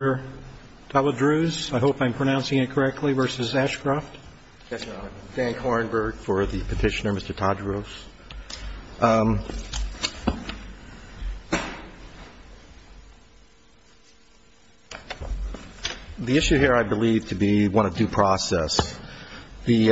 I hope I'm pronouncing it correctly, versus Ashcroft. Yes, Your Honor. Thank Hornburg for the petitioner, Mr. Tawadruz. The issue here I believe to be one of due process. The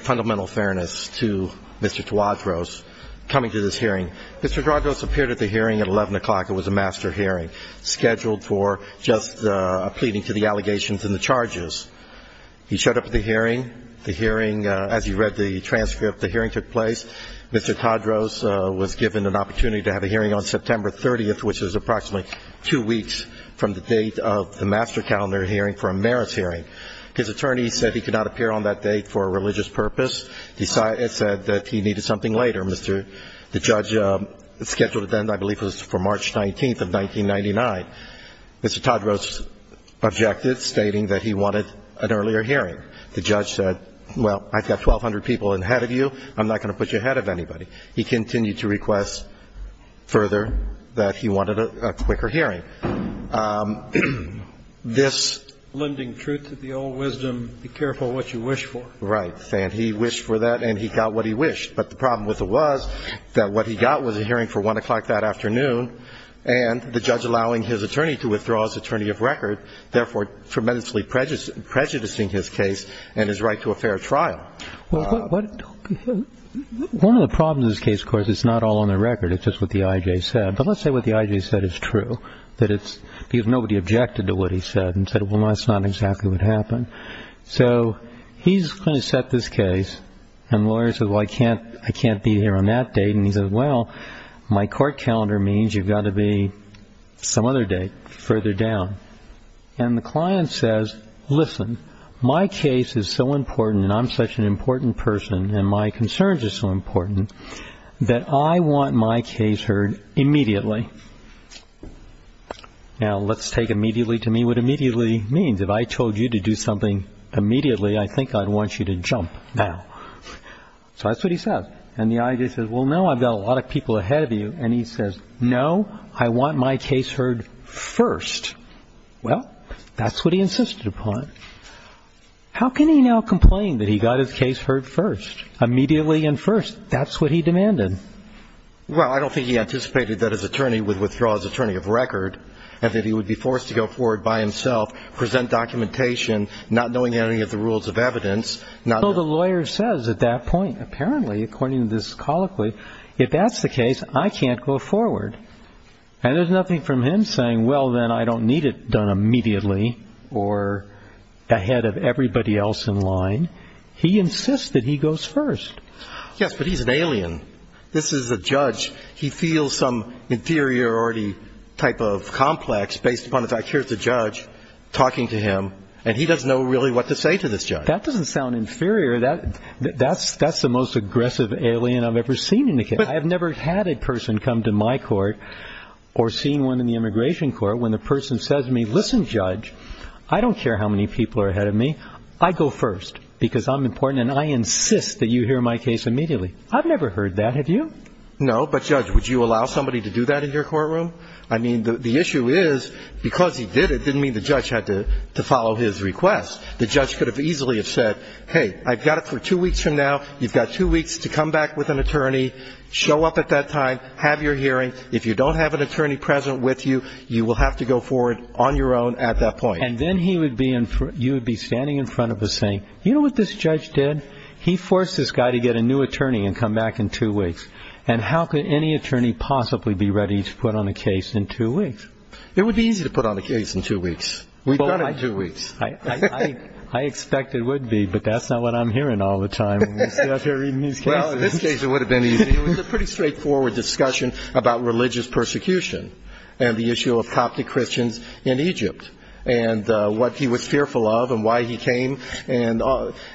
fundamental fairness to Mr. Tawadruz coming to this hearing. Mr. Tawadruz appeared at the hearing at 11 o'clock. It was a master hearing. It was scheduled for just a pleading to the allegations and the charges. He showed up at the hearing. As he read the transcript, the hearing took place. Mr. Tawadruz was given an opportunity to have a hearing on September 30th, which is approximately two weeks from the date of the master calendar hearing for a merits hearing. His attorney said he could not appear on that date for a religious purpose. He said that he needed something later. The judge scheduled it then, I believe it was for March 19th of 1999. Mr. Tawadruz objected, stating that he wanted an earlier hearing. The judge said, well, I've got 1,200 people ahead of you. I'm not going to put you ahead of anybody. He continued to request further that he wanted a quicker hearing. This ---- Lending truth to the old wisdom, be careful what you wish for. Right. And he wished for that, and he got what he wished. But the problem with it was that what he got was a hearing for 1 o'clock that afternoon and the judge allowing his attorney to withdraw as attorney of record, therefore tremendously prejudicing his case and his right to a fair trial. One of the problems in this case, of course, it's not all on the record. It's just what the I.J. said. But let's say what the I.J. said is true, that it's because nobody objected to what he said and said, well, that's not exactly what happened. So he's going to set this case, and the lawyer says, well, I can't be here on that date. And he says, well, my court calendar means you've got to be some other date further down. And the client says, listen, my case is so important and I'm such an important person and my concerns are so important that I want my case heard immediately. Now, let's take immediately to me what immediately means. If I told you to do something immediately, I think I'd want you to jump now. So that's what he says. And the I.J. says, well, no, I've got a lot of people ahead of you. And he says, no, I want my case heard first. Well, that's what he insisted upon. How can he now complain that he got his case heard first, immediately and first? That's what he demanded. Well, I don't think he anticipated that his attorney would withdraw as attorney of record and that he would be forced to go forward by himself, present documentation, not knowing any of the rules of evidence. So the lawyer says at that point, apparently, according to this colloquy, if that's the case, I can't go forward. And there's nothing from him saying, well, then I don't need it done immediately or ahead of everybody else in line. He insists that he goes first. Yes, but he's an alien. This is a judge. He feels some inferiority type of complex based upon the fact, here's the judge talking to him, and he doesn't know really what to say to this judge. That doesn't sound inferior. That's the most aggressive alien I've ever seen in a case. I have never had a person come to my court or seen one in the immigration court when the person says to me, listen, judge, I don't care how many people are ahead of me. I go first because I'm important, and I insist that you hear my case immediately. I've never heard that. Have you? No. But, judge, would you allow somebody to do that in your courtroom? I mean, the issue is because he did it didn't mean the judge had to follow his request. The judge could have easily have said, hey, I've got it for two weeks from now. You've got two weeks to come back with an attorney, show up at that time, have your hearing. If you don't have an attorney present with you, you will have to go forward on your own at that point. And then he would be in front of you would be standing in front of us saying, you know what this judge did? He forced this guy to get a new attorney and come back in two weeks. And how could any attorney possibly be ready to put on a case in two weeks? It would be easy to put on a case in two weeks. We've done it in two weeks. I expect it would be, but that's not what I'm hearing all the time. Well, in this case it would have been easy. It was a pretty straightforward discussion about religious persecution and the issue of Coptic Christians in Egypt and what he was fearful of and why he came. And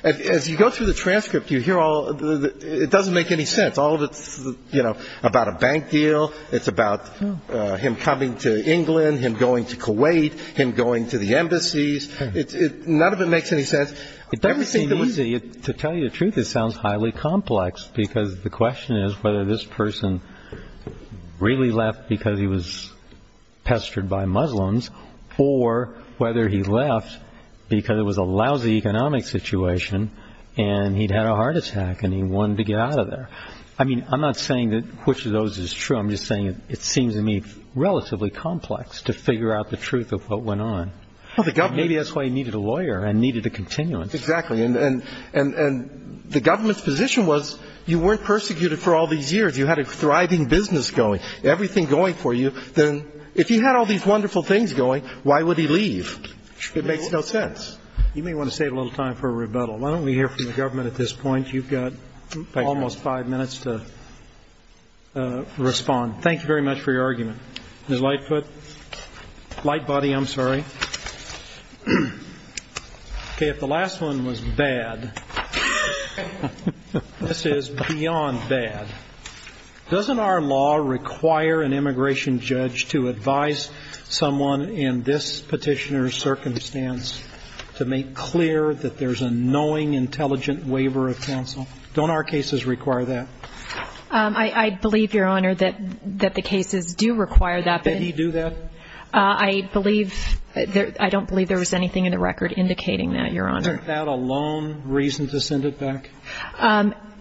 as you go through the transcript, you hear all it doesn't make any sense. All of it's, you know, about a bank deal. It's about him coming to England, him going to Kuwait, him going to the embassies. None of it makes any sense. It doesn't seem easy. To tell you the truth, it sounds highly complex because the question is whether this person really left because he was pestered by Muslims or whether he left because it was a lousy economic situation and he'd had a heart attack and he wanted to get out of there. I mean, I'm not saying that which of those is true. I'm just saying it seems to me relatively complex to figure out the truth of what went on. Maybe that's why he needed a lawyer and needed a continuance. Exactly. And the government's position was you weren't persecuted for all these years. You had a thriving business going, everything going for you. Then if you had all these wonderful things going, why would he leave? It makes no sense. You may want to save a little time for a rebuttal. Why don't we hear from the government at this point? You've got almost five minutes to respond. Thank you very much for your argument. Ms. Lightfoot. Lightbody, I'm sorry. Okay, if the last one was bad, this is beyond bad. Doesn't our law require an immigration judge to advise someone in this petitioner's circumstance to make clear that there's a knowing, intelligent waiver of counsel? Don't our cases require that? I believe, Your Honor, that the cases do require that. Did he do that? I don't believe there was anything in the record indicating that, Your Honor. Isn't that a lone reason to send it back?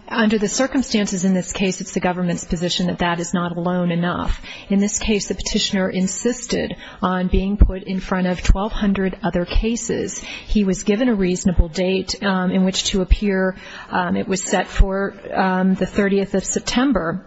Under the circumstances in this case, it's the government's position that that is not alone enough. In this case, the petitioner insisted on being put in front of 1,200 other cases. He was given a reasonable date in which to appear. It was set for the 30th of September,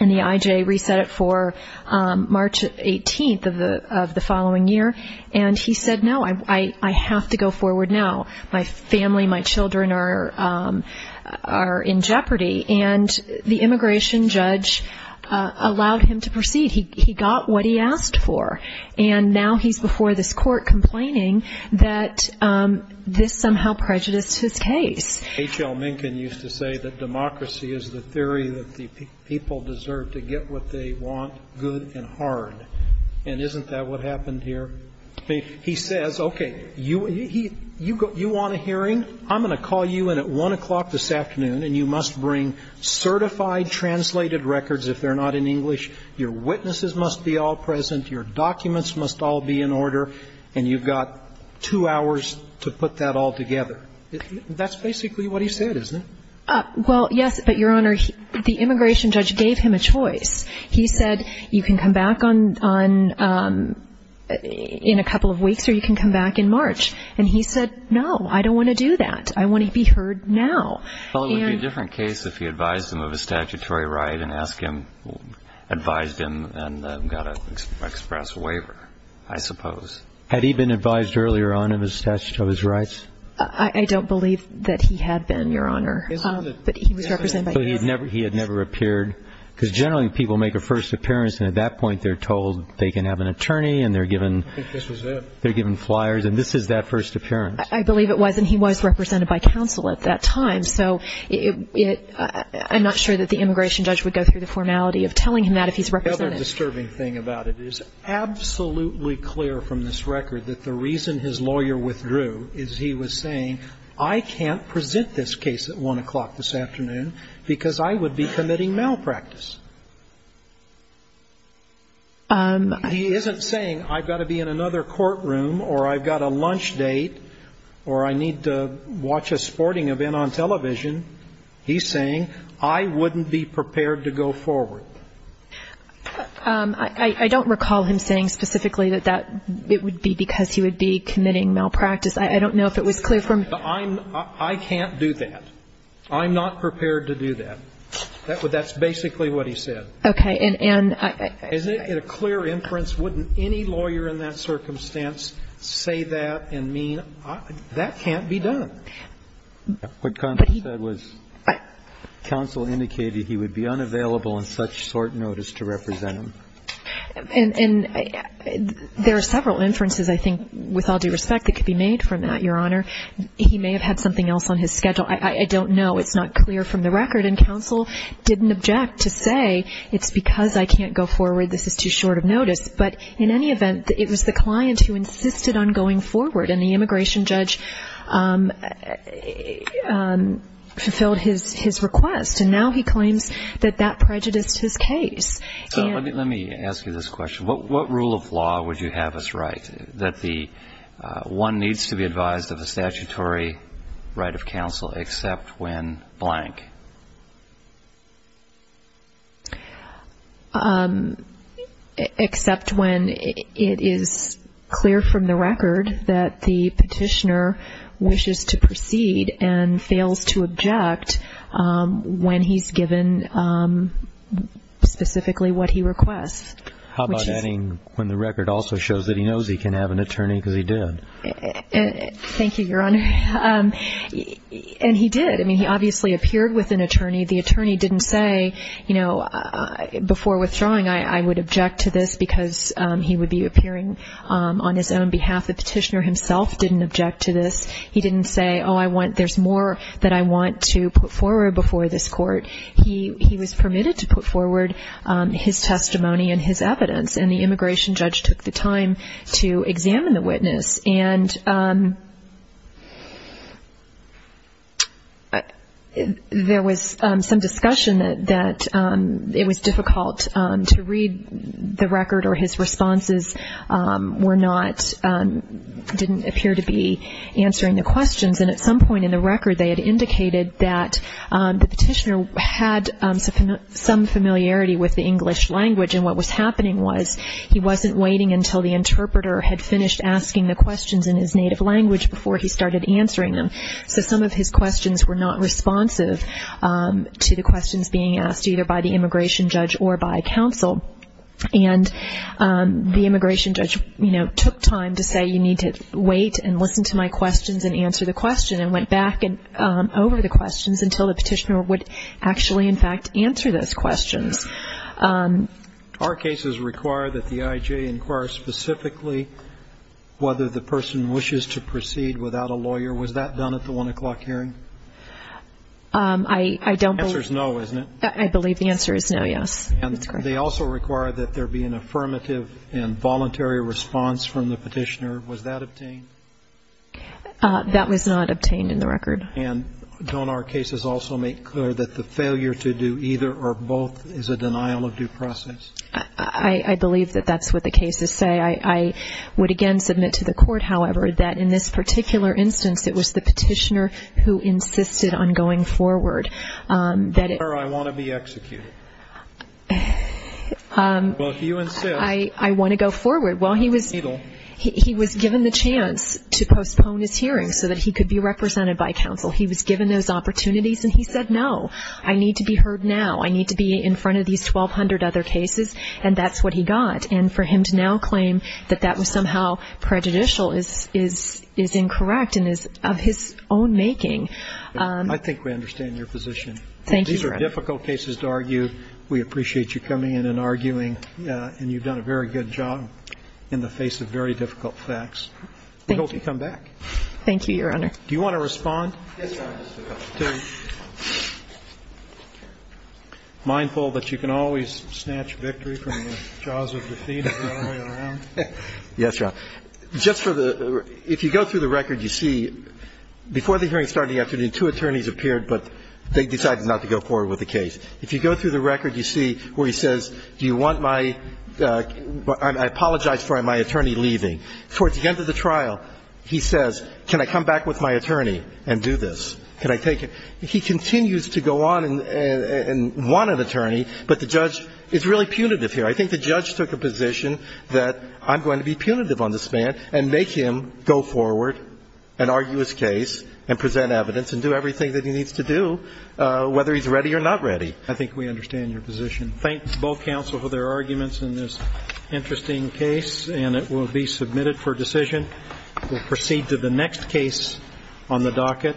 and the IJ reset it for March 18th of the following year. And he said, no, I have to go forward now. My family, my children are in jeopardy. And the immigration judge allowed him to proceed. He got what he asked for. And now he's before this court complaining that this somehow prejudiced his case. H.L. Minkin used to say that democracy is the theory that the people deserve to get what they want good and hard. And isn't that what happened here? He says, okay, you want a hearing? I'm going to call you in at 1 o'clock this afternoon, and you must bring certified, translated records if they're not in English. Your witnesses must be all present. Your documents must all be in order. And you've got two hours to put that all together. That's basically what he said, isn't it? Well, yes, but, Your Honor, the immigration judge gave him a choice. He said, you can come back in a couple of weeks, or you can come back in March. And he said, no, I don't want to do that. I want to be heard now. Well, it would be a different case if he advised him of a statutory right and advised him and got an express waiver, I suppose. Had he been advised earlier on of his statutory rights? I don't believe that he had been, Your Honor, but he was represented by him. So he had never appeared? Because generally people make a first appearance, and at that point they're told they can have an attorney, and they're given flyers, and this is that first appearance. I believe it was, and he was represented by counsel at that time. So I'm not sure that the immigration judge would go through the formality of telling him that if he's represented. The other disturbing thing about it is it's absolutely clear from this record that the reason his lawyer withdrew is he was saying I can't present this case at 1 o'clock this afternoon because I would be committing malpractice. He isn't saying I've got to be in another courtroom or I've got a lunch date or I need to watch a sporting event on television. He's saying I wouldn't be prepared to go forward. I don't recall him saying specifically that it would be because he would be committing malpractice. I don't know if it was clear from. I can't do that. I'm not prepared to do that. That's basically what he said. Okay. And I. Is it a clear inference? Wouldn't any lawyer in that circumstance say that and mean that can't be done? What counsel said was counsel indicated he would be unavailable on such short notice to represent him. And there are several inferences I think with all due respect that could be made from that, Your Honor. He may have had something else on his schedule. I don't know. It's not clear from the record. And counsel didn't object to say it's because I can't go forward. This is too short of notice. But in any event, it was the client who insisted on going forward. And the immigration judge fulfilled his request. And now he claims that that prejudiced his case. Let me ask you this question. What rule of law would you have us write that the one needs to be advised of a statutory right of counsel except when blank? Except when it is clear from the record that the petitioner wishes to proceed and fails to object when he's given specifically what he requests. How about adding when the record also shows that he knows he can have an attorney because he did? Thank you, Your Honor. And he did. I mean, he obviously appeared with an attorney. The attorney didn't say, you know, before withdrawing, I would object to this because he would be appearing on his own behalf. The petitioner himself didn't object to this. He didn't say, oh, there's more that I want to put forward before this court. He was permitted to put forward his testimony and his evidence. And the immigration judge took the time to examine the witness. And there was some discussion that it was difficult to read the record or his responses didn't appear to be answering the questions. And at some point in the record they had indicated that the petitioner had some familiarity with the English language. And what was happening was he wasn't waiting until the interpreter had finished asking the questions in his native language before he started answering them. So some of his questions were not responsive to the questions being asked, either by the immigration judge or by counsel. And the immigration judge, you know, took time to say, you need to wait and listen to my questions and answer the question, and went back over the questions until the petitioner would actually, in fact, answer those questions. Our cases require that the IJ inquire specifically whether the person wishes to proceed without a lawyer. Was that done at the 1 o'clock hearing? I don't believe. The answer is no, isn't it? I believe the answer is no, yes. And they also require that there be an affirmative and voluntary response from the petitioner. Was that obtained? That was not obtained in the record. And don't our cases also make clear that the failure to do either or both is a denial of due process? I believe that that's what the cases say. I would again submit to the court, however, that in this particular instance, it was the petitioner who insisted on going forward. I want to be executed. Well, if you insist. I want to go forward. Well, he was given the chance to postpone his hearing so that he could be represented by counsel. He was given those opportunities, and he said, no, I need to be heard now. I need to be in front of these 1,200 other cases. And that's what he got. And for him to now claim that that was somehow prejudicial is incorrect and is of his own making. I think we understand your position. Thank you. These are difficult cases to argue. We appreciate you coming in and arguing, and you've done a very good job in the face of very difficult facts. Thank you. We hope you come back. Thank you, Your Honor. Do you want to respond? Yes, Your Honor. Mindful that you can always snatch victory from the jaws of defeat all the way around? Yes, Your Honor. Just for the ---- if you go through the record, you see before the hearing started yesterday, two attorneys appeared, but they decided not to go forward with the case. If you go through the record, you see where he says, do you want my ---- I apologize for my attorney leaving. Towards the end of the trial, he says, can I come back with my attorney and do this? Can I take him? He continues to go on and want an attorney, but the judge is really punitive here. I think the judge took a position that I'm going to be punitive on this man and make him go forward and argue his case and present evidence and do everything that he needs to do, whether he's ready or not ready. I think we understand your position. Thank both counsel for their arguments in this interesting case, and it will be submitted for decision. We'll proceed to the next case on the docket. Hookmer. Hookmer. Hookmer. Hookmer. Hookmer. Hookmer. Hookmer. Hooker. Hooker.